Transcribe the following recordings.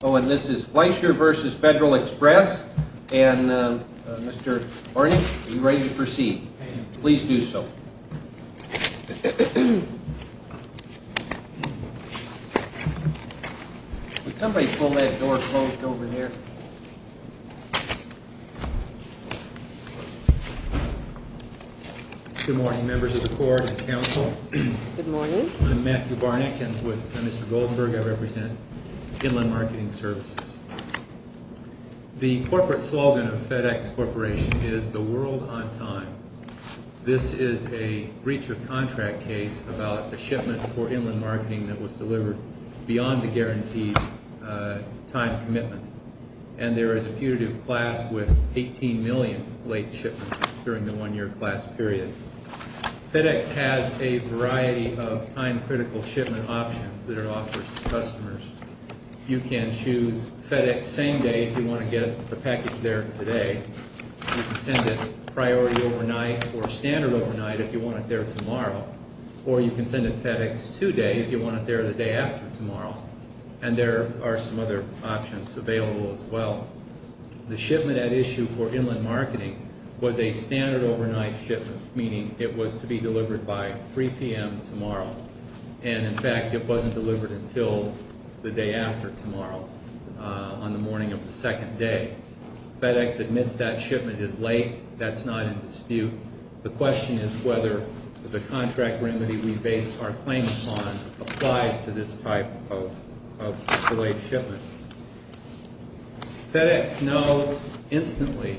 Oh, and this is Fleischer v. Federal Express, and Mr. Barnack, are you ready to proceed? Please do so. Would somebody pull that door closed over there? Good morning, members of the court and counsel. Good morning. I'm Matthew Barnack, and with Mr. Goldenberg, I represent Inland Marketing Services. The corporate slogan of FedEx Corporation is the world on time. This is a breach of contract case about a shipment for Inland Marketing that was delivered beyond the guaranteed time commitment, and there is a putative class with 18 million late shipments during the one-year class period. FedEx has a variety of time-critical shipment options that it offers to customers. You can choose FedEx same day if you want to get the package there today. You can send it priority overnight or standard overnight if you want it there tomorrow, or you can send it FedEx today if you want it there the day after tomorrow, and there are some other options available as well. The shipment at issue for Inland Marketing was a standard overnight shipment, meaning it was to be delivered by 3 p.m. tomorrow, and, in fact, it wasn't delivered until the day after tomorrow on the morning of the second day. FedEx admits that shipment is late. That's not in dispute. The question is whether the contract remedy we base our claim upon applies to this type of delayed shipment. FedEx knows instantly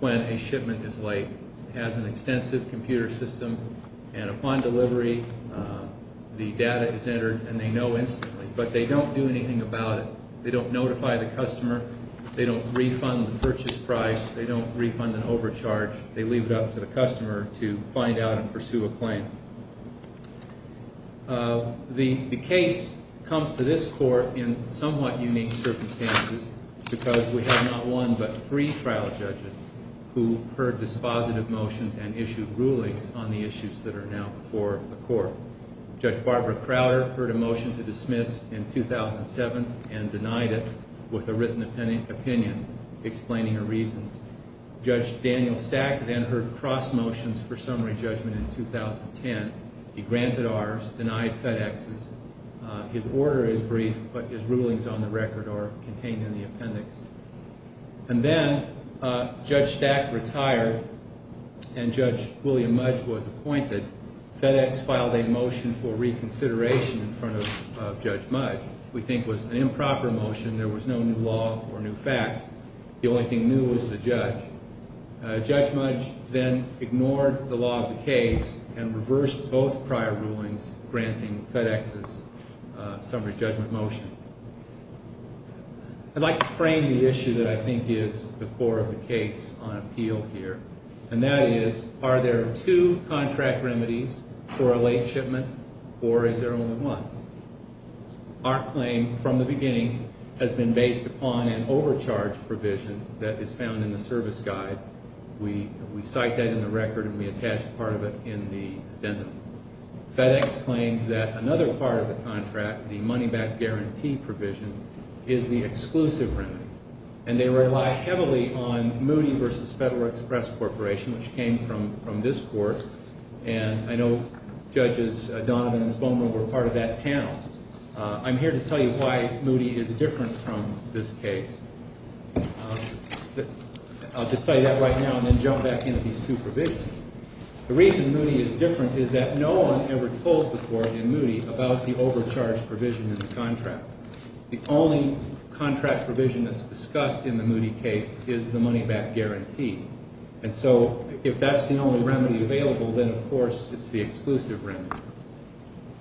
when a shipment is late. It has an extensive computer system, and upon delivery, the data is entered, and they know instantly. But they don't do anything about it. They don't notify the customer. They don't refund the purchase price. They don't refund an overcharge. They leave it up to the customer to find out and pursue a claim. The case comes to this court in somewhat unique circumstances because we have not one but three trial judges who heard dispositive motions and issued rulings on the issues that are now before the court. Judge Barbara Crowder heard a motion to dismiss in 2007 and denied it with a written opinion explaining her reasons. Judge Daniel Stack then heard cross motions for summary judgment in 2010. He granted ours, denied FedEx's. His order is brief, but his rulings on the record are contained in the appendix. And then Judge Stack retired, and Judge William Mudge was appointed. FedEx filed a motion for reconsideration in front of Judge Mudge we think was an improper motion. There was no new law or new facts. The only thing new was the judge. Judge Mudge then ignored the law of the case and reversed both prior rulings granting FedEx's summary judgment motion. I'd like to frame the issue that I think is the core of the case on appeal here, and that is are there two contract remedies for a late shipment, or is there only one? Our claim from the beginning has been based upon an overcharge provision that is found in the service guide. We cite that in the record, and we attach part of it in the addendum. FedEx claims that another part of the contract, the money-back guarantee provision, is the exclusive remedy. And they rely heavily on Moody v. Federal Express Corporation, which came from this court. And I know Judges Donovan and Spomer were part of that panel. I'm here to tell you why Moody is different from this case. I'll just tell you that right now and then jump back into these two provisions. The reason Moody is different is that no one ever told before in Moody about the overcharge provision in the contract. The only contract provision that's discussed in the Moody case is the money-back guarantee. And so if that's the only remedy available, then, of course, it's the exclusive remedy.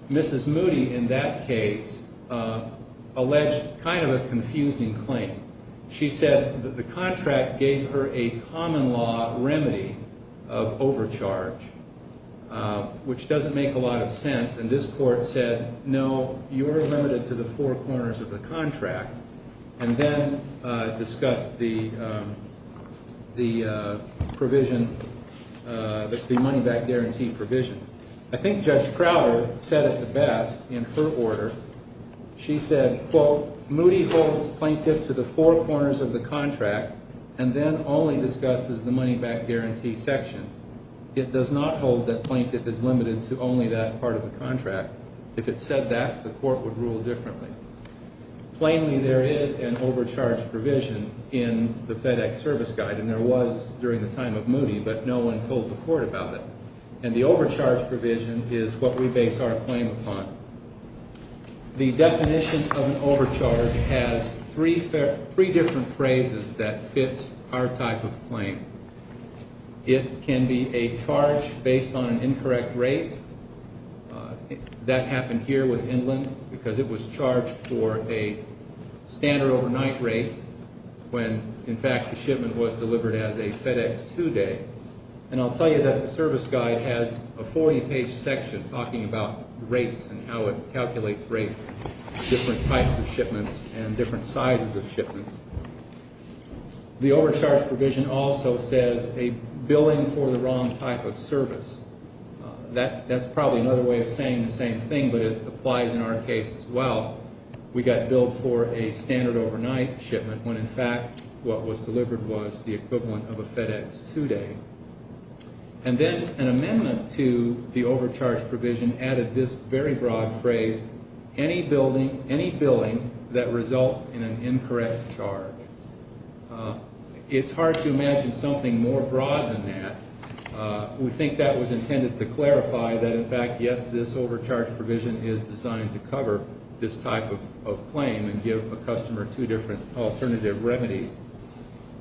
Mrs. Moody in that case alleged kind of a confusing claim. She said that the contract gave her a common-law remedy of overcharge, which doesn't make a lot of sense. And this court said, no, you're limited to the four corners of the contract, and then discussed the provision, the money-back guarantee provision. I think Judge Crowder said it best in her order. She said, quote, Moody holds plaintiff to the four corners of the contract and then only discusses the money-back guarantee section. It does not hold that plaintiff is limited to only that part of the contract. If it said that, the court would rule differently. Plainly, there is an overcharge provision in the FedEx Service Guide, and there was during the time of Moody, but no one told the court about it. And the overcharge provision is what we base our claim upon. The definition of an overcharge has three different phrases that fits our type of claim. It can be a charge based on an incorrect rate. That happened here with Inland because it was charged for a standard overnight rate when, in fact, the shipment was delivered as a FedEx 2-day. And I'll tell you that the Service Guide has a 40-page section talking about rates and how it calculates rates, different types of shipments, and different sizes of shipments. The overcharge provision also says a billing for the wrong type of service. That's probably another way of saying the same thing, but it applies in our case as well. We got billed for a standard overnight shipment when, in fact, what was delivered was the equivalent of a FedEx 2-day. And then an amendment to the overcharge provision added this very broad phrase, any billing that results in an incorrect charge. It's hard to imagine something more broad than that. We think that was intended to clarify that, in fact, yes, this overcharge provision is designed to cover this type of claim and give a customer two different alternative remedies.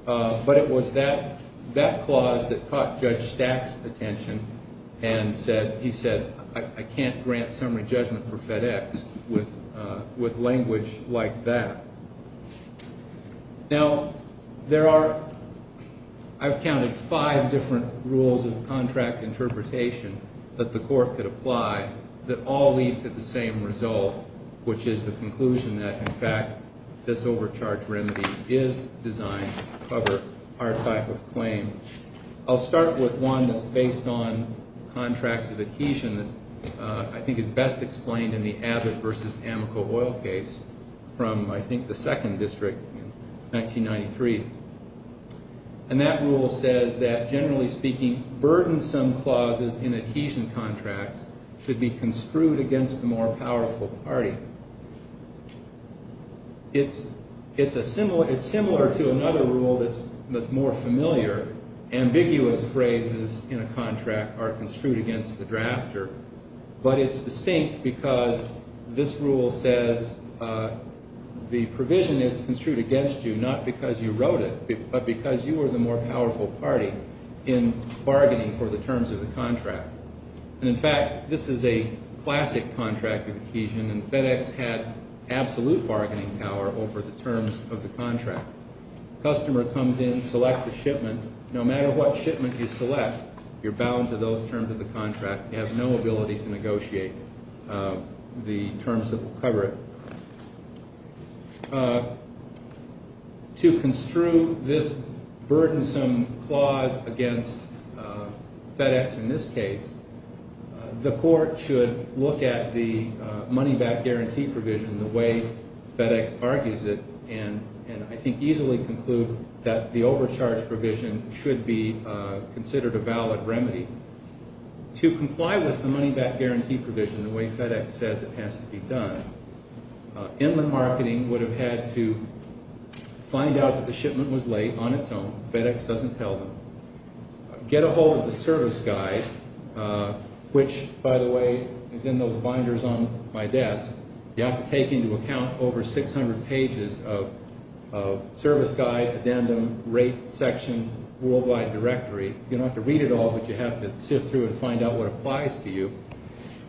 But it was that clause that caught Judge Stack's attention and he said, I can't grant summary judgment for FedEx with language like that. Now, there are, I've counted five different rules of contract interpretation that the court could apply that all lead to the same result, which is the conclusion that, in fact, this overcharge remedy is designed to cover our type of claim. I'll start with one that's based on contracts of adhesion that I think is best explained in the Abbott v. Amoco Oil case from, I think, the second district in 1993. And that rule says that, generally speaking, burdensome clauses in adhesion contracts should be construed against the more powerful party. It's similar to another rule that's more familiar, ambiguous phrases in a contract are construed against the drafter. But it's distinct because this rule says the provision is construed against you, not because you wrote it, but because you were the more powerful party in bargaining for the terms of the contract. And, in fact, this is a classic contract of adhesion and FedEx had absolute bargaining power over the terms of the contract. Customer comes in, selects a shipment. No matter what shipment you select, you're bound to those terms of the contract. You have no ability to negotiate the terms that will cover it. To construe this burdensome clause against FedEx in this case, the court should look at the money-back guarantee provision the way FedEx argues it and, I think, easily conclude that the overcharge provision should be considered a valid remedy. To comply with the money-back guarantee provision the way FedEx says it has to be done, Inland Marketing would have had to find out that the shipment was late on its own. FedEx doesn't tell them. Get a hold of the service guide, which, by the way, is in those binders on my desk. You have to take into account over 600 pages of service guide, addendum, rate section, worldwide directory. You don't have to read it all, but you have to sift through it and find out what applies to you.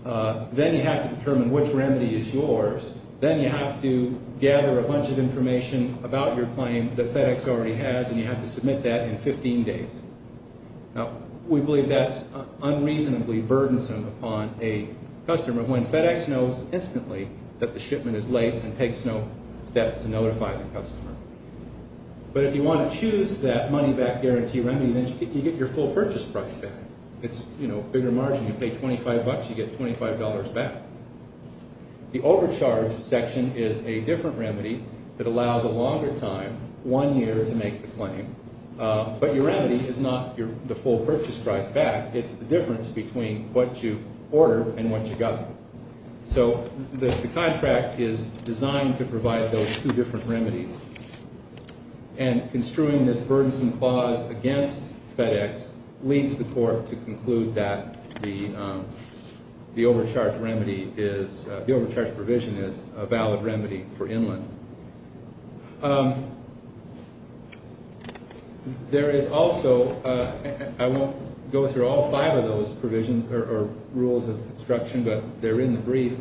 Then you have to determine which remedy is yours. Then you have to gather a bunch of information about your claim that FedEx already has, and you have to submit that in 15 days. Now, we believe that's unreasonably burdensome upon a customer when FedEx knows instantly that the shipment is late and takes no steps to notify the customer. But if you want to choose that money-back guarantee remedy, then you get your full purchase price back. It's a bigger margin. You pay 25 bucks, you get $25 back. The overcharge section is a different remedy that allows a longer time, one year, to make the claim. But your remedy is not the full purchase price back. It's the difference between what you ordered and what you got. So the contract is designed to provide those two different remedies. And construing this burdensome clause against FedEx leads the court to conclude that the overcharge provision is a valid remedy for Inland. There is also, I won't go through all five of those provisions or rules of construction, but they're in the brief.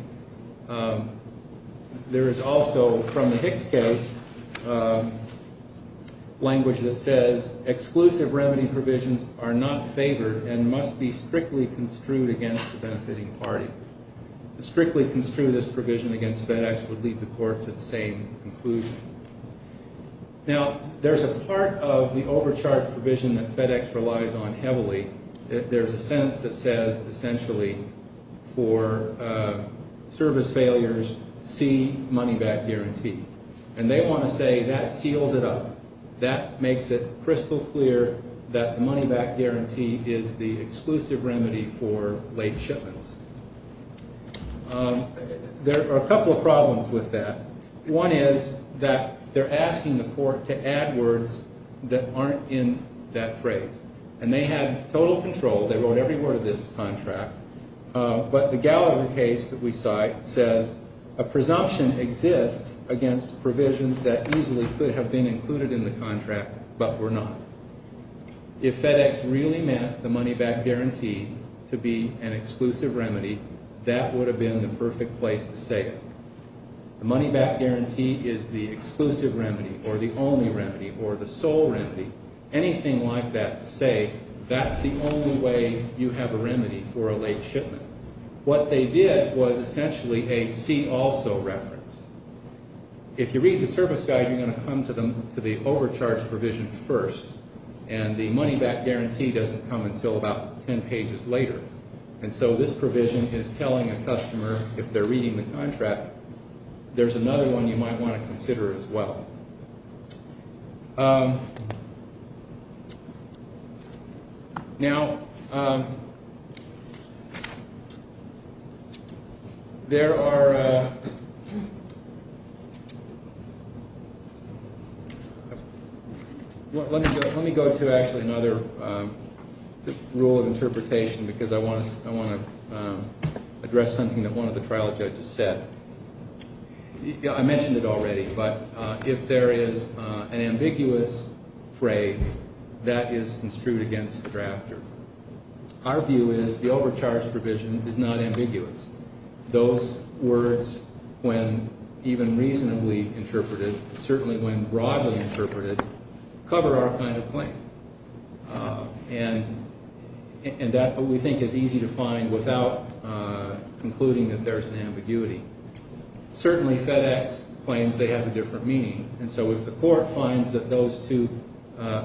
There is also, from the Hicks case, language that says, Exclusive remedy provisions are not favored and must be strictly construed against the benefiting party. Strictly construe this provision against FedEx would lead the court to the same conclusion. Now, there's a part of the overcharge provision that FedEx relies on heavily. There's a sentence that says, essentially, for service failures, see money back guarantee. And they want to say that seals it up. That makes it crystal clear that the money back guarantee is the exclusive remedy for late shipments. There are a couple of problems with that. One is that they're asking the court to add words that aren't in that phrase. And they had total control. They wrote every word of this contract. But the Gallagher case that we cite says, A presumption exists against provisions that easily could have been included in the contract but were not. If FedEx really meant the money back guarantee to be an exclusive remedy, that would have been the perfect place to say it. The money back guarantee is the exclusive remedy or the only remedy or the sole remedy. Anything like that to say that's the only way you have a remedy for a late shipment. What they did was essentially a see also reference. If you read the service guide, you're going to come to the overcharge provision first. And the money back guarantee doesn't come until about 10 pages later. And so this provision is telling a customer, if they're reading the contract, there's another one you might want to consider as well. Now, there are, let me go to actually another rule of interpretation because I want to address something that one of the trial judges said. I mentioned it already, but if there is an ambiguous phrase, that is construed against the drafter. Our view is the overcharge provision is not ambiguous. Those words, when even reasonably interpreted, certainly when broadly interpreted, cover our kind of claim. And that, we think, is easy to find without concluding that there's an ambiguity. Certainly FedEx claims they have a different meaning. And so if the court finds that those two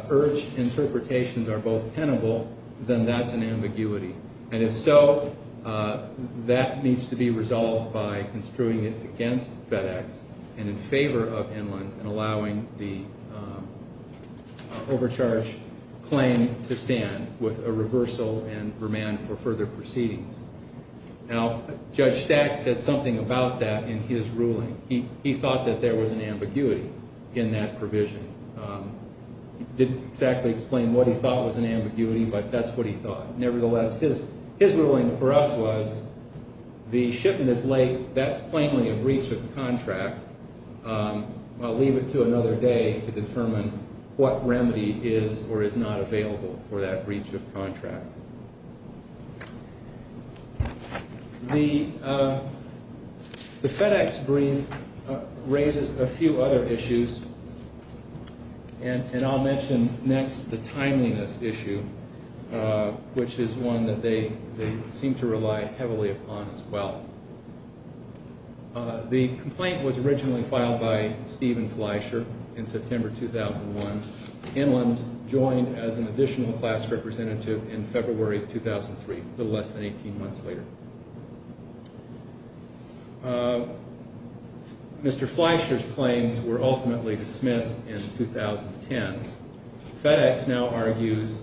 urged interpretations are both tenable, then that's an ambiguity. And if so, that needs to be resolved by construing it against FedEx and in favor of Inland and allowing the overcharge claim to stand with a reversal and remand for further proceedings. Now, Judge Stack said something about that in his ruling. He thought that there was an ambiguity in that provision. He didn't exactly explain what he thought was an ambiguity, but that's what he thought. Nevertheless, his ruling for us was the shipment is late. That's plainly a breach of contract. I'll leave it to another day to determine what remedy is or is not available for that breach of contract. The FedEx brief raises a few other issues, and I'll mention next the timeliness issue, which is one that they seem to rely heavily upon as well. The complaint was originally filed by Stephen Fleischer in September 2001. Inland joined as an additional class representative in February 2003, a little less than 18 months later. Mr. Fleischer's claims were ultimately dismissed in 2010. FedEx now argues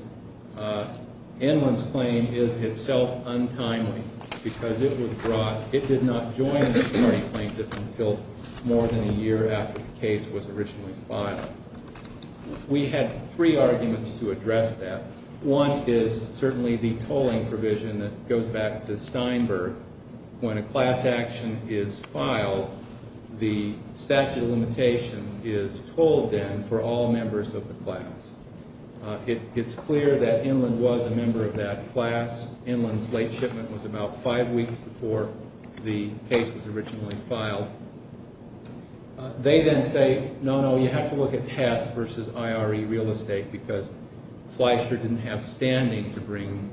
Inland's claim is itself untimely because it was brought, it did not join as a party plaintiff until more than a year after the case was originally filed. We had three arguments to address that. One is certainly the tolling provision that goes back to Steinberg. When a class action is filed, the statute of limitations is told then for all members of the class. It's clear that Inland was a member of that class. Inland's late shipment was about five weeks before the case was originally filed. They then say, no, no, you have to look at Hess versus IRE real estate because Fleischer didn't have standing to bring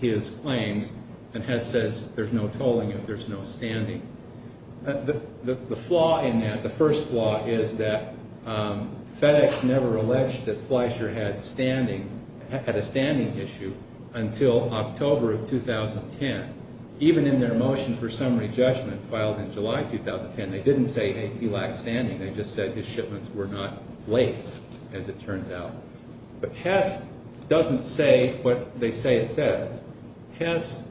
his claims, and Hess says there's no tolling if there's no standing. The flaw in that, the first flaw, is that FedEx never alleged that Fleischer had standing, had a standing issue until October of 2010. Even in their motion for summary judgment filed in July 2010, they didn't say he lacked standing. They just said his shipments were not late, as it turns out. But Hess doesn't say what they say it says. Hess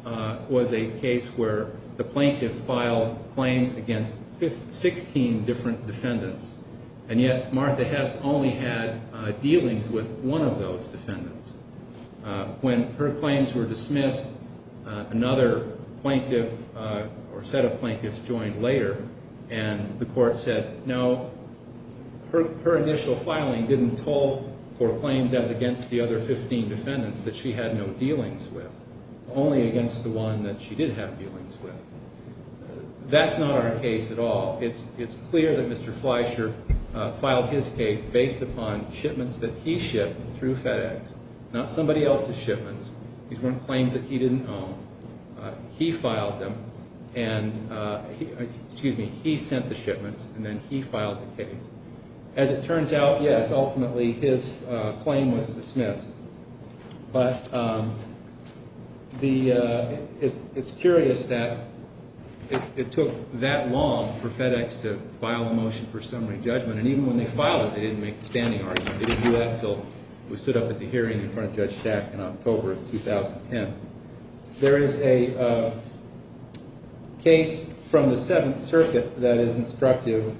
was a case where the plaintiff filed claims against 16 different defendants, and yet Martha Hess only had dealings with one of those defendants. When her claims were dismissed, another plaintiff or set of plaintiffs joined later, and the court said, no, her initial filing didn't toll for claims as against the other 15 defendants that she had no dealings with, only against the one that she did have dealings with. That's not our case at all. It's clear that Mr. Fleischer filed his case based upon shipments that he shipped through FedEx. Not somebody else's shipments. These weren't claims that he didn't own. He filed them, and, excuse me, he sent the shipments, and then he filed the case. As it turns out, yes, ultimately his claim was dismissed. But it's curious that it took that long for FedEx to file a motion for summary judgment, and even when they filed it, they didn't make the standing argument. They didn't do that until we stood up at the hearing in front of Judge Shack in October of 2010. There is a case from the Seventh Circuit that is instructive,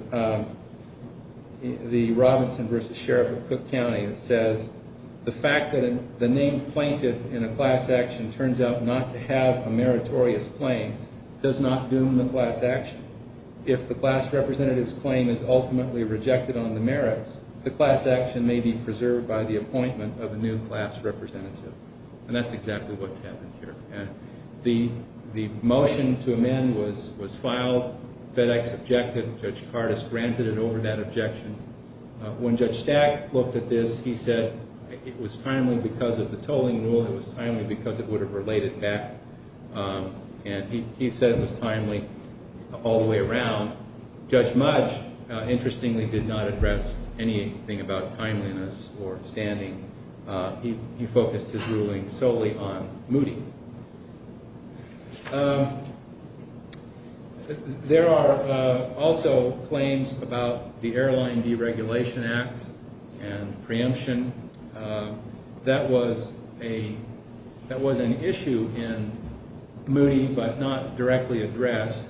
the Robinson v. Sheriff of Cook County that says the fact that the named plaintiff in a class action turns out not to have a meritorious claim does not doom the class action. If the class representative's claim is ultimately rejected on the merits, the class action may be preserved by the appointment of a new class representative. And that's exactly what's happened here. The motion to amend was filed. FedEx objected. Judge Cardus granted it over that objection. When Judge Stack looked at this, he said it was timely because of the tolling rule. It was timely because it would have relayed it back. And he said it was timely all the way around. Judge Mudge, interestingly, did not address anything about timeliness or standing. He focused his ruling solely on Moody. There are also claims about the Airline Deregulation Act and preemption. That was an issue in Moody but not directly addressed.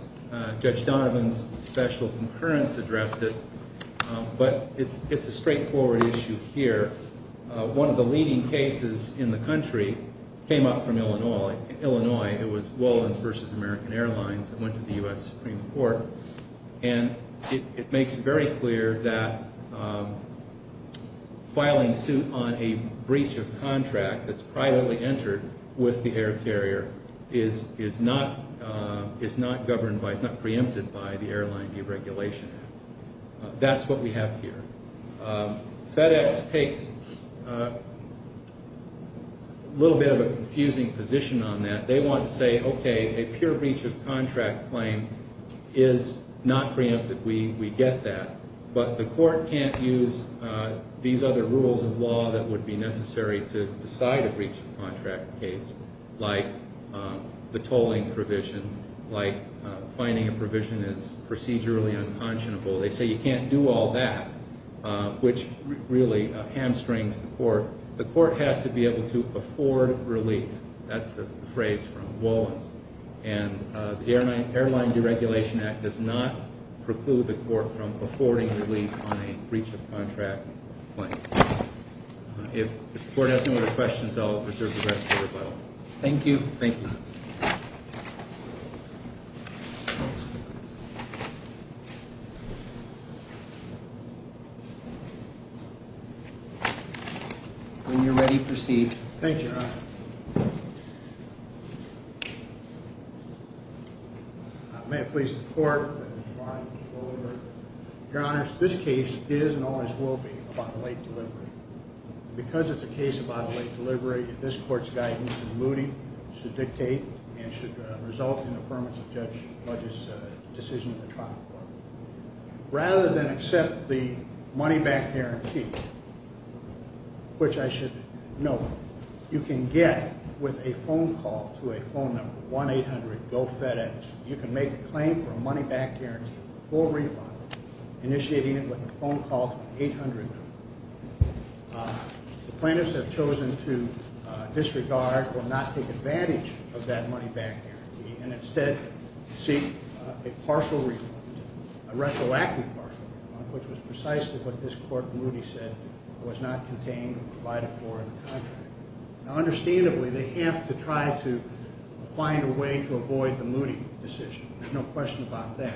Judge Donovan's special concurrence addressed it. But it's a straightforward issue here. One of the leading cases in the country came up from Illinois. It was Wallens v. American Airlines that went to the U.S. Supreme Court. And it makes very clear that filing suit on a breach of contract that's privately entered with the air carrier is not preempted by the Airline Deregulation Act. That's what we have here. FedEx takes a little bit of a confusing position on that. They want to say, okay, a pure breach of contract claim is not preempted. We get that. But the court can't use these other rules of law that would be necessary to decide a breach of contract case like the tolling provision, like finding a provision is procedurally unconscionable. They say you can't do all that, which really hamstrings the court. The court has to be able to afford relief. That's the phrase from Wallens. And the Airline Deregulation Act does not preclude the court from affording relief on a breach of contract claim. If the court has no other questions, I'll reserve the rest for rebuttal. Thank you. When you're ready, proceed. Thank you, Your Honor. May it please the court that the trial be over. Your Honor, this case is and always will be about a late delivery. Because it's a case about a late delivery, this court's guidance and mooting should dictate and should result in the firmness of the judge's decision in the trial court. Rather than accept the money-back guarantee, which I should note, you can get with a phone call to a phone number, 1-800-GO-FEDEX. You can make a claim for a money-back guarantee for a full refund, initiating it with a phone call to an 800 number. The plaintiffs have chosen to disregard or not take advantage of that money-back guarantee and instead seek a partial refund, a retroactive partial refund, which was precisely what this court moody said was not contained or provided for in the contract. Now, understandably, they have to try to find a way to avoid the moody decision. There's no question about that.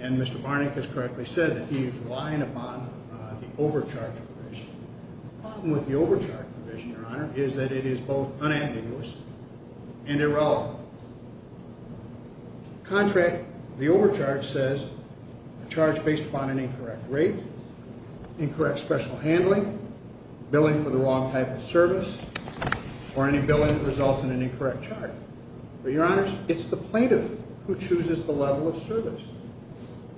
And Mr. Barnick has correctly said that he is relying upon the overcharge provision. The problem with the overcharge provision, Your Honor, is that it is both unambiguous and irrelevant. The contract, the overcharge, says a charge based upon an incorrect rate, incorrect special handling, billing for the wrong type of service, or any billing that results in an incorrect charge. But, Your Honors, it's the plaintiff who chooses the level of service.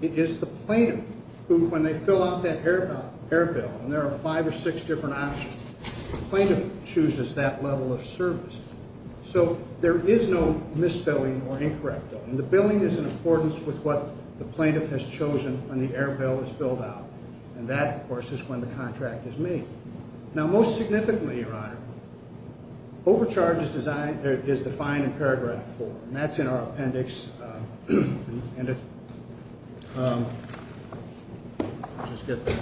It is the plaintiff who, when they fill out that error bill, and there are five or six different options, the plaintiff chooses that level of service. So, there is no misspelling or incorrect billing. The billing is in accordance with what the plaintiff has chosen when the error bill is filled out. And that, of course, is when the contract is made. Now, most significantly, Your Honor, overcharge is defined in paragraph four, and that's in our appendix. Let me just get this.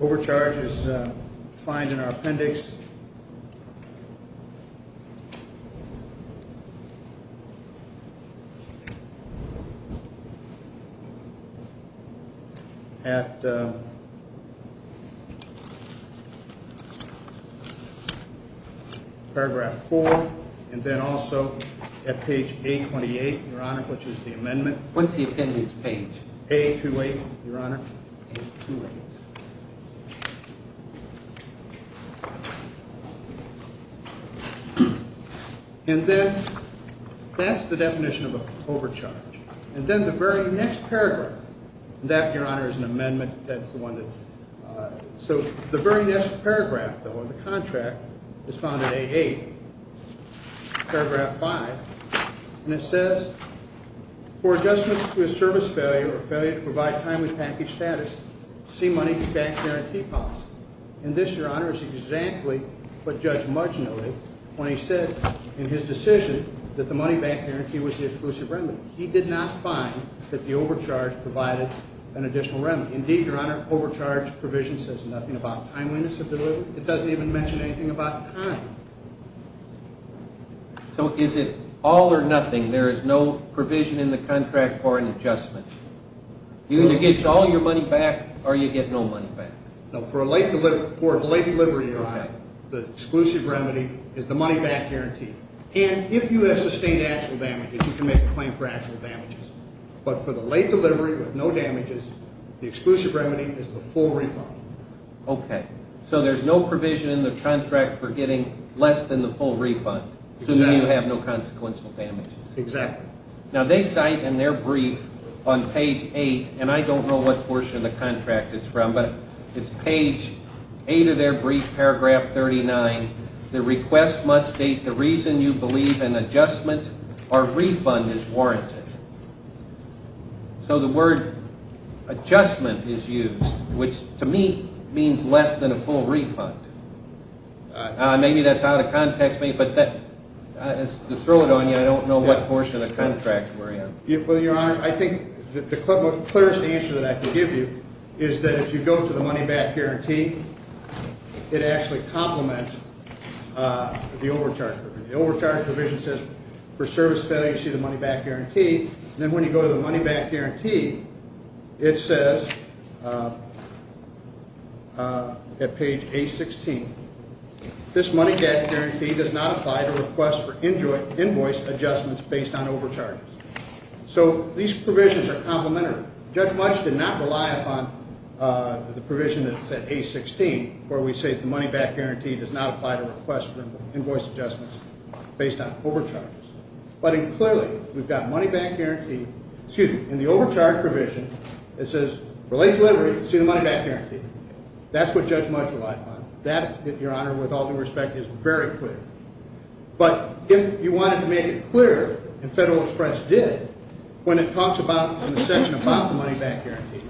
Overcharge is defined in our appendix. At paragraph four. Also, at page A28, Your Honor, which is the amendment. What's the appendix page? A28, Your Honor. And then, that's the definition of an overcharge. And then the very next paragraph, that, Your Honor, is an amendment. So, the very next paragraph, though, of the contract is found at A8. Paragraph five. And it says, And this, Your Honor, is exactly what Judge Mudge noted when he said in his decision that the money back guarantee was the exclusive remedy. He did not find that the overcharge provided an additional remedy. Indeed, Your Honor, overcharge provision says nothing about timeliness of delivery. It doesn't even mention anything about time. So, is it all or nothing? There is no provision in the contract for an adjustment. You either get all your money back or you get no money back. No, for a late delivery, Your Honor, the exclusive remedy is the money back guarantee. And if you have sustained actual damages, you can make a claim for actual damages. But for the late delivery with no damages, the exclusive remedy is the full refund. Okay. So, there's no provision in the contract for getting less than the full refund. So, you have no consequential damages. Exactly. Now, they cite in their brief on page eight, and I don't know what portion of the contract it's from, but it's page eight of their brief, paragraph 39. The request must state the reason you believe an adjustment or refund is warranted. So, the word adjustment is used, which to me means less than a full refund. Maybe that's out of context, but to throw it on you, I don't know what portion of the contract we're in. Well, Your Honor, I think the clearest answer that I can give you is that if you go to the money back guarantee, it actually complements the overcharge provision. It says for service failure, you see the money back guarantee. And then when you go to the money back guarantee, it says at page A16, this money back guarantee does not apply to requests for invoice adjustments based on overcharges. So, these provisions are complementary. Judge Mutch did not rely upon the provision that's at A16, where we say the money back guarantee does not apply to requests for invoice adjustments based on overcharges. But clearly, we've got money back guarantee, excuse me, in the overcharge provision, it says for late delivery, you see the money back guarantee. That's what Judge Mutch relied upon. That, Your Honor, with all due respect, is very clear. But if you wanted to make it clear, and Federal Express did, when it talks about in the section about the money back guarantee,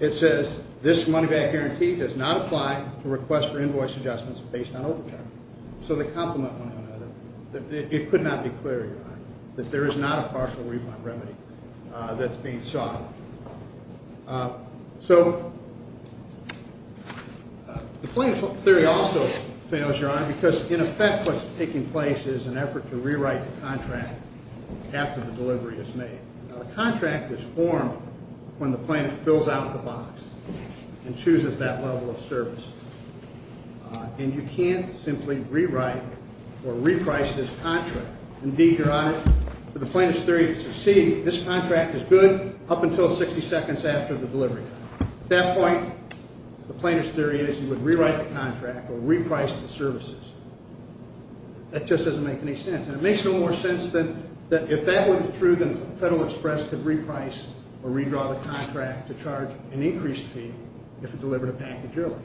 it says this money back guarantee does not apply to requests for invoice adjustments based on overcharges. So, they complement one another. It could not be clearer, Your Honor, that there is not a partial refund remedy that's being sought. So, the plaintiff's theory also fails, Your Honor, because in effect what's taking place is an effort to rewrite the contract after the delivery is made. Now, the contract is formed when the plaintiff fills out the box and chooses that level of service. And you can't simply rewrite or reprice this contract. Indeed, Your Honor, for the plaintiff's theory to succeed, this contract is good up until 60 seconds after the delivery. At that point, the plaintiff's theory is you would rewrite the contract or reprice the services. That just doesn't make any sense. And it makes no more sense than if that was true, then Federal Express could reprice or redraw the contract to charge an increased fee if it delivered a package early.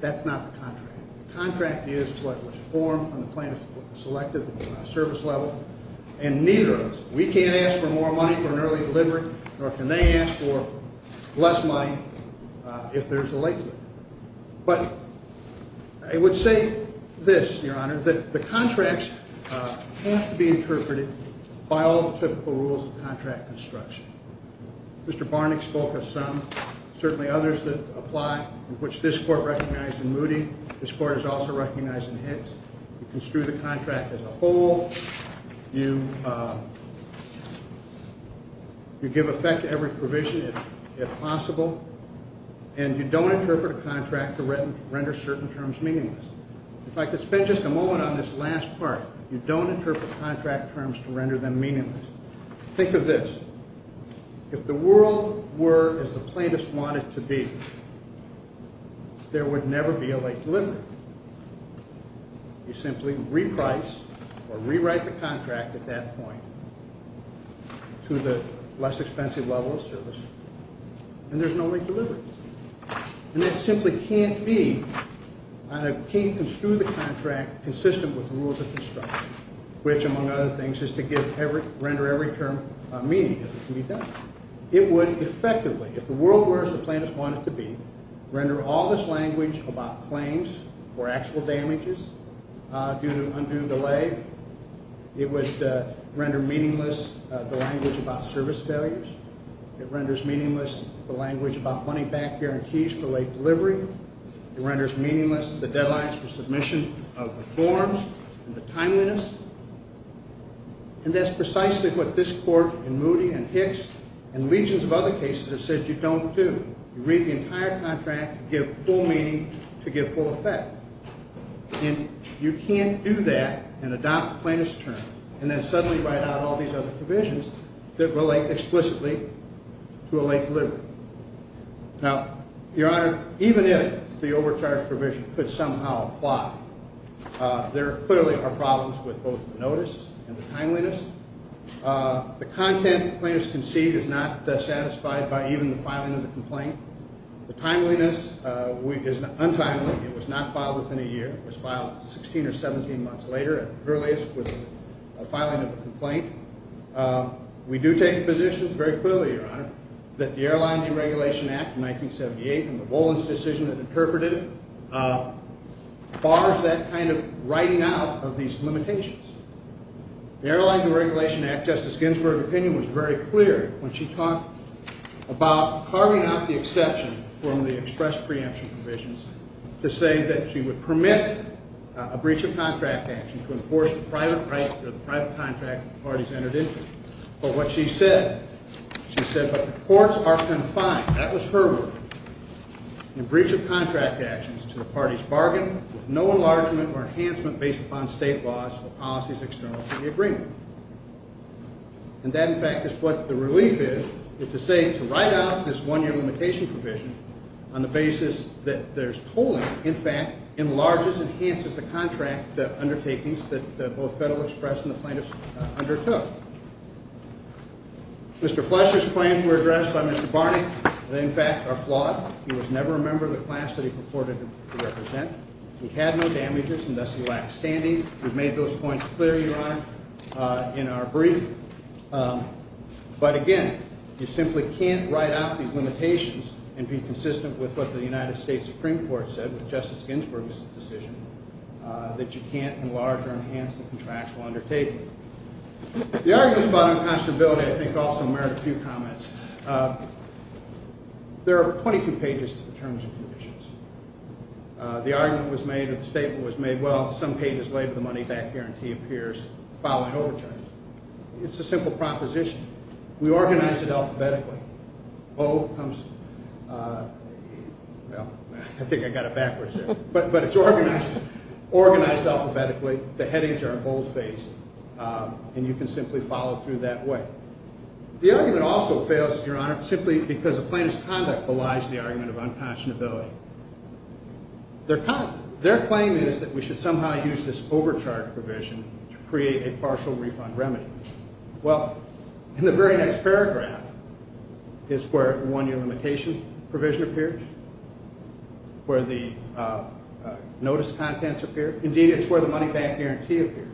That's not the contract. The contract is what was formed when the plaintiff selected the service level, and neither of us, we can't ask for more money for an early delivery, nor can they ask for less money if there's a late delivery. But I would say this, Your Honor, that the contracts have to be interpreted by all the typical rules of contract construction. Mr. Barnett spoke of some, certainly others that apply, which this Court recognized in Moody. This Court has also recognized in Hicks. You construe the contract as a whole. You give effect to every provision if possible. And you don't interpret a contract to render certain terms meaningless. If I could spend just a moment on this last part. You don't interpret contract terms to render them meaningless. Think of this. If the world were as the plaintiffs want it to be, there would never be a late delivery. You simply reprice or rewrite the contract at that point to the less expensive level of service. And there's no late delivery. And that simply can't be, can't construe the contract consistent with the rules of construction, which among other things is to render every term meaningless. It would effectively, if the world were as the plaintiffs want it to be, render all this language about claims for actual damages due to undue delay. It would render meaningless the language about service failures. It renders meaningless the language about money back guarantees for late delivery. It renders meaningless the deadlines for submission of the forms and the timeliness. And that's precisely what this Court in Moody and Hicks and legions of other cases have said you don't do. You read the entire contract, give full meaning to give full effect. And you can't do that and adopt plaintiff's term and then suddenly write out all these other provisions that relate explicitly to a late delivery. Now, Your Honor, even if the overcharge provision could somehow apply, there clearly are problems with both the notice and the timeliness. The content plaintiffs conceived is not satisfied by even the filing of the complaint. The timeliness is untimely. It was not filed within a year. It was filed 16 or 17 months later at the earliest with the filing of the complaint. We do take the position very clearly, Your Honor, that the Airline Deregulation Act of 1978 and the Bollings decision that interpreted it bars that kind of writing out of these limitations. The Airline Deregulation Act, Justice Ginsburg's opinion was very clear when she talked about carving out the exception from the express preemption provisions to say that she would permit a breach of contract action to enforce the private contract that the parties entered into. But what she said, she said, but the courts are confined, that was her word, in breach of contract actions to the parties' bargain with no enlargement or enhancement based upon state laws or policies external to the agreement. And that, in fact, is what the relief is, is to say to write out this one-year limitation provision on the basis that there's tolling, in fact, enlarges and enhances the contract undertakings that both Federal Express and the plaintiffs undertook. Mr. Fletcher's claims were addressed by Mr. Barney that, in fact, are flawed. He was never a member of the class that he purported to represent. He had no damages and thus he lacked standing. We've made those points clear, Your Honor, in our brief. But, again, you simply can't write out these limitations and be consistent with what the United States Supreme Court said with Justice Ginsburg's decision that you can't enlarge or enhance the contractual undertaking. The arguments about inconstability, I think, also merit a few comments. There are 22 pages to the terms and conditions. The argument was made, or the statement was made, well, some pages later, the money-back guarantee appears following overturn. It's a simple proposition. We organized it alphabetically. O comes, well, I think I got it backwards there, but it's organized alphabetically. The headings are bold-faced and you can simply follow through that way. The argument also fails, Your Honor, simply because the plaintiff's conduct belies the argument of inconstability. Their claim is that we should somehow use this overcharge provision to create a partial refund remedy. Well, in the very next paragraph is where the one-year limitation provision appears, where the notice contents appear. Indeed, it's where the money-back guarantee appears.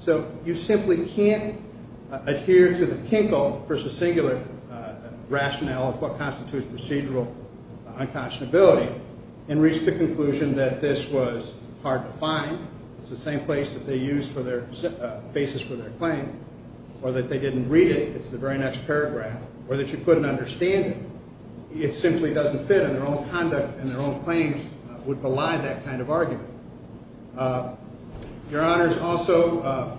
So you simply can't adhere to the Kinkle versus singular rationale of what constitutes procedural unconscionability and reach the conclusion that this was hard to find. It's the same place that they used for their basis for their claim. Or that they didn't read it. It's the very next paragraph. Or that you couldn't understand it. It simply doesn't fit and their own conduct and their own claims would belie that kind of argument. Your Honors, also,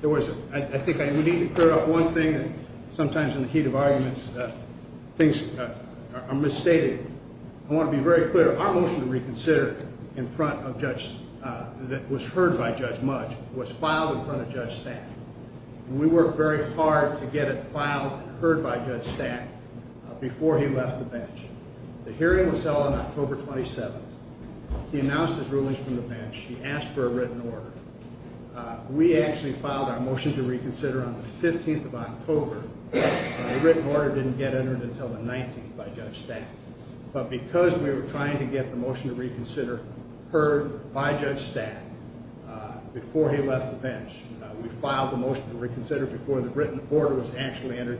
there was, I think I need to clear up one thing that sometimes in the heat of arguments, things are misstated. I want to be very clear. Our motion to reconsider in front of Judge, that was heard by Judge Mudge, was filed in front of Judge Stack. We worked very hard to get it filed, heard by Judge Stack before he left the bench. The hearing was held on October 27th. He announced his rulings from the bench. He asked for a written order. We actually filed our motion to reconsider on the 15th of October. The written order didn't get entered until the 19th by Judge Stack. But because we were trying to get the motion to reconsider heard by Judge Stack before he left the bench, we filed the motion to reconsider before the written order was actually entered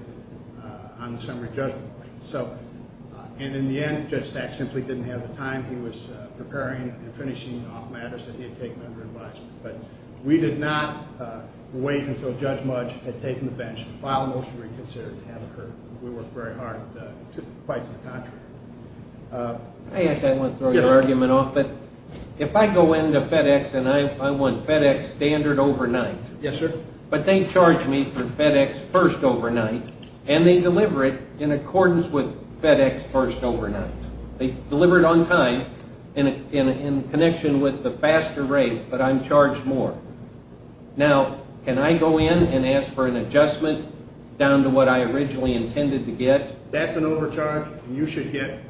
on the summary judgment. So, and in the end, Judge Stack simply didn't have the time. He was preparing and finishing off matters that he had taken under advisement. But we did not wait until Judge Mudge had taken the bench to file a motion to reconsider to have it heard. We worked very hard to fight for the contract. I guess I want to throw your argument off, but if I go into FedEx and I want FedEx standard overnight. Yes, sir. But they charge me for FedEx first overnight and they deliver it in accordance with FedEx first overnight. They deliver it on time in connection with the faster rate, but I'm charged more. Now, can I go in and ask for an adjustment down to what I originally intended to get? That's an overcharge. You should get,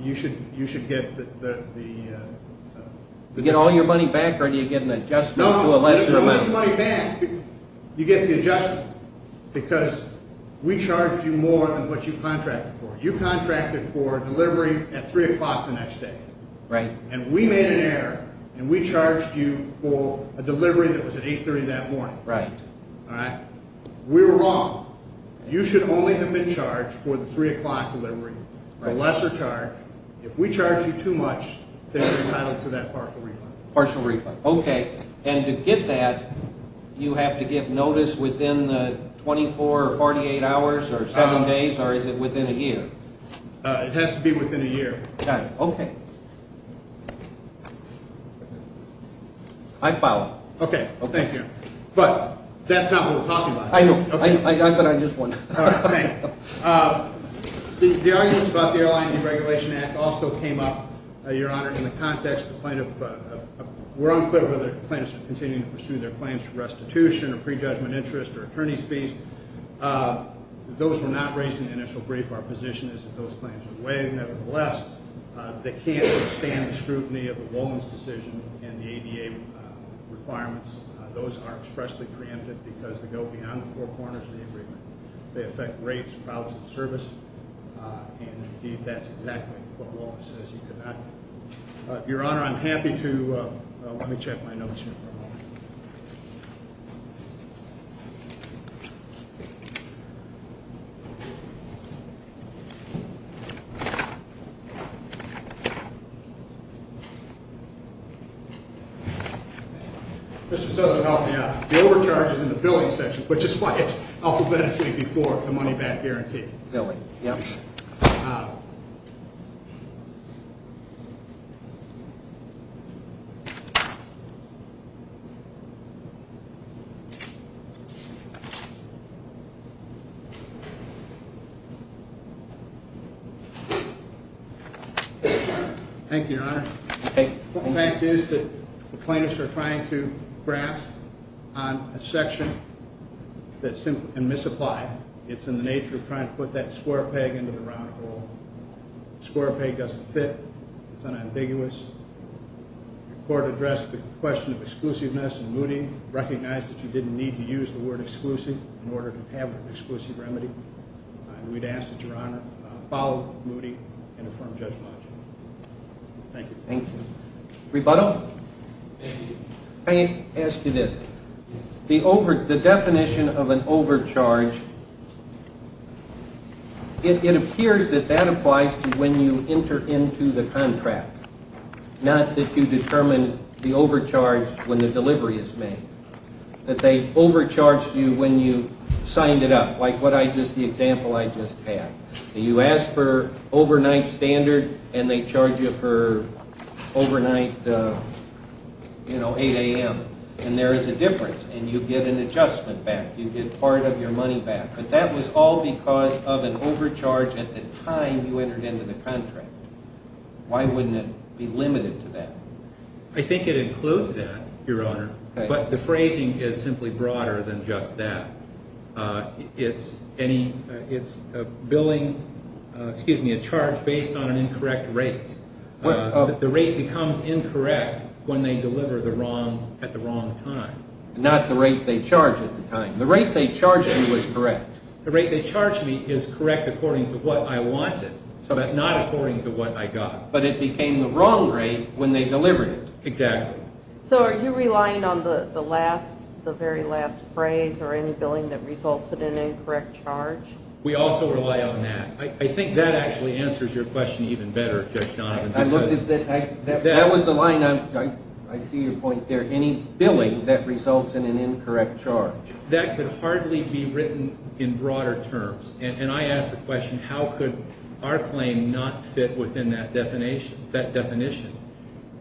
you should get the... You get all your money back or do you get an adjustment to a lesser amount? You get the adjustment because we charged you more than what you contracted for. You contracted for delivery at 3 o'clock the next day. And we made an error and we charged you for a delivery that was at 8.30 that morning. We were wrong. You should only have been charged for the 3 o'clock delivery, the lesser charge. If we charge you too much, you get a partial refund. Partial refund, okay. And to get that, you have to give notice within the 24 or 48 hours or seven days or is it within a year? It has to be within a year. Got it, okay. I follow. Okay, thank you. But that's not what we're talking about. I know. I got that on just one. All right, thank you. We're unclear whether the plaintiffs are continuing to pursue their claims for restitution or prejudgment interest or attorney's fees. Those were not raised in the initial brief. Our position is that those claims are waived. Nevertheless, they can't withstand the scrutiny of the Wollins decision and the ADA requirements. Those are expressly preempted because they go beyond the four corners of the agreement. They affect rates, files, and service. And indeed, that's exactly what Wollins says you cannot. Let me check my notes here for a moment. Mr. Southern, help me out. The overcharge is in the billing section which is why it's alphabetically before the money back guarantee. Billing, yep. Thank you, Your Honor. The fact is that the plaintiffs are trying to grasp on a section and misapply it. It's in the nature of trying to put that square peg into the round hole. The square peg doesn't fit. into the round hole. The square peg doesn't fit. It's unambiguous. The court addressed the question of exclusiveness and Moody recognized that you didn't need to use the word exclusive in order to have an exclusive remedy. And we'd ask that Your Honor follow Moody and affirm judgment. Thank you. Thank you. Rebuttal? I ask you this. The definition of an overcharge, it appears that that applies to when you enter into the contract, not that you determine the overcharge when the delivery is made, that they overcharge you when you signed it up, like the example I just had. You ask for overnight standard and they charge you for overnight, you know, 8 a.m. And there is a difference and you get an adjustment back. You get part of your money back. But that was all because of an overcharge at the time you entered into the contract. Why wouldn't it be limited to that? I think it includes that, Your Honor. But the phrasing is simply broader than just that. It's billing, excuse me, a charge based on an incorrect rate. The rate becomes incorrect when they deliver at the wrong time. Not the rate they charge at the time. The rate they charge you is correct. The rate they charge me is correct according to what I wanted, but not according to what I got. But it became the wrong rate when they delivered it. Exactly. So are you relying on the last, the very last phrase or any billing that resulted in an incorrect charge? We also rely on that. I think that actually answers your question even better, Judge Donovan. That was the line. I see your point there. Any billing that results in an incorrect charge I think that answers your question. How could our claim not fit within that definition?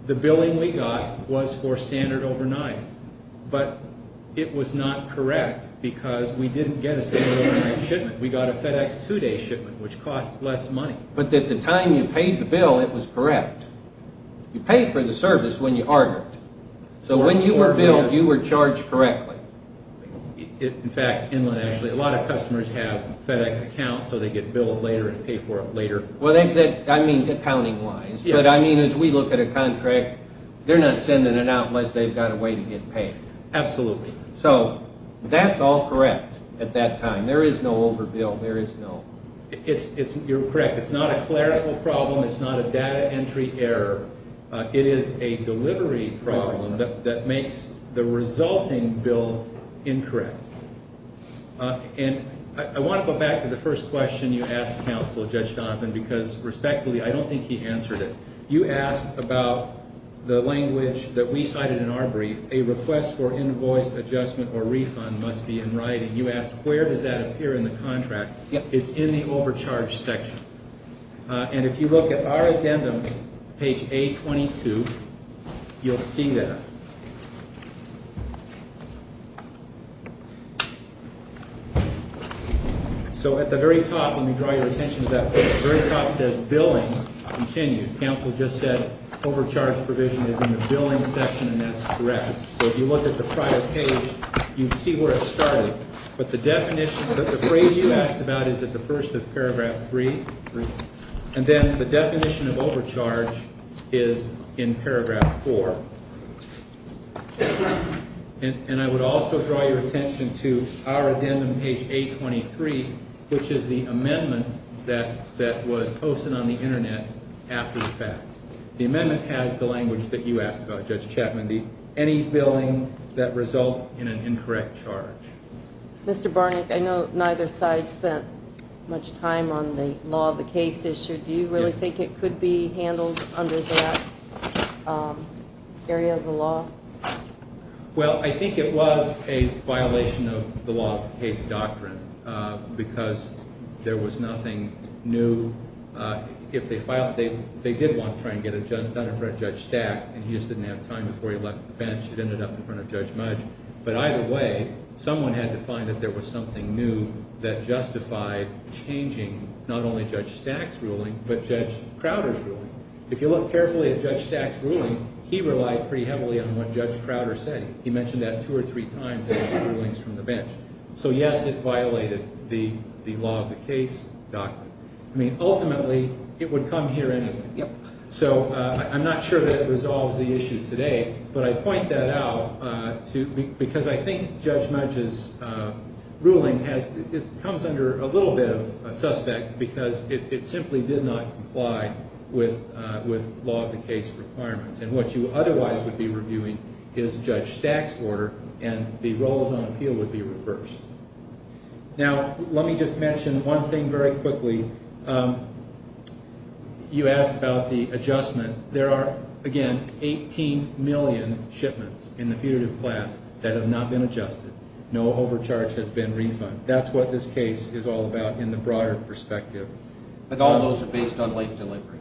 The billing we got was for standard overnight, but it was not correct because we didn't get a standard overnight shipment. We got a FedEx two-day shipment which cost less money. But at the time you paid the bill, it was correct. You paid for the service and you paid the bill later and paid for it later. I mean accounting-wise, but as we look at a contract, they're not sending it out unless they've got a way to get paid. Absolutely. So that's all correct at that time. There is no overbill. You're correct. It's not a clerical problem. It's not a data entry error. It is a delivery problem that makes the resulting bill a little more difficult to ask counsel, Judge Donovan, because respectfully, I don't think he answered it. You asked about the language that we cited in our brief. A request for invoice adjustment or refund must be in writing. You asked where does that appear in the contract. It's in the overcharge section. And if you look at our addendum, page A22, you'll see that. And I would also draw your attention to that. The very top says billing continued. Counsel just said overcharge provision is in the billing section, and that's correct. So if you look at the prior page, you'd see where it started. But the phrase you asked about is at the first of paragraph 3. And then the definition of overcharge is in paragraph 4. And I would also draw your attention to the amendment that was posted on the Internet after the fact. The amendment has the language that you asked about, Judge Chapman. Any billing that results in an incorrect charge. Mr. Barnack, I know neither side spent much time on the law of the case issue. Do you really think it could be handled under that area of the law? Well, I think it was a violation of the law of the case. There was something new. They did want to try and get it done in front of Judge Stack, and he just didn't have time before he left the bench. It ended up in front of Judge Mudge. But either way, someone had to find that there was something new that justified changing but Judge Crowder's ruling. If you look carefully at Judge Stack's ruling, I mean, ultimately, it would come here anyway. So I'm not sure that it resolves the issue today, but I point that out because I think Judge Mudge's ruling comes under a little bit of suspect because it simply did not comply with law of the case requirements. And what you otherwise would be reviewing is Judge Stack's order, and the roles on appeal would be reversed. But ultimately, you asked about the adjustment. There are, again, 18 million shipments in the putative class that have not been adjusted. No overcharge has been refunded. That's what this case is all about in the broader perspective. But all those are based on late delivery.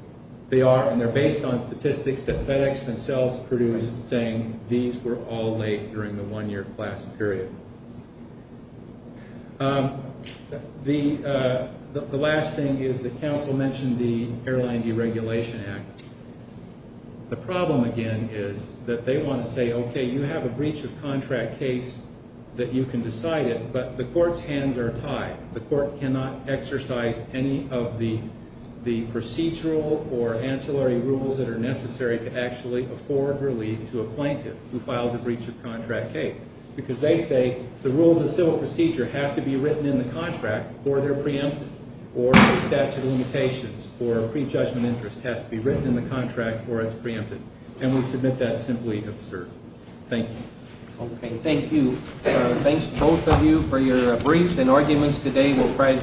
They are, and they're based on statistics that FedEx themselves produced saying these were all late during the one-year class period. The last thing is that counsel mentioned the Airline Deregulation Act. The problem, again, is that they want to say, okay, you have a breach of contract case that you can decide it, but the court's hands are tied. The court cannot exercise any of the procedural or ancillary rules that are necessary to actually afford relief to a plaintiff who files a breach of contract case because they say the rules of civil procedure have to be written in the contract or they're preempted or the statute of limitations or prejudgment interest has to be written in the contract or it's preempted. And we submit that simply absurd. Thank you. Okay, thank you. Thanks to both of you for your briefs and arguments today.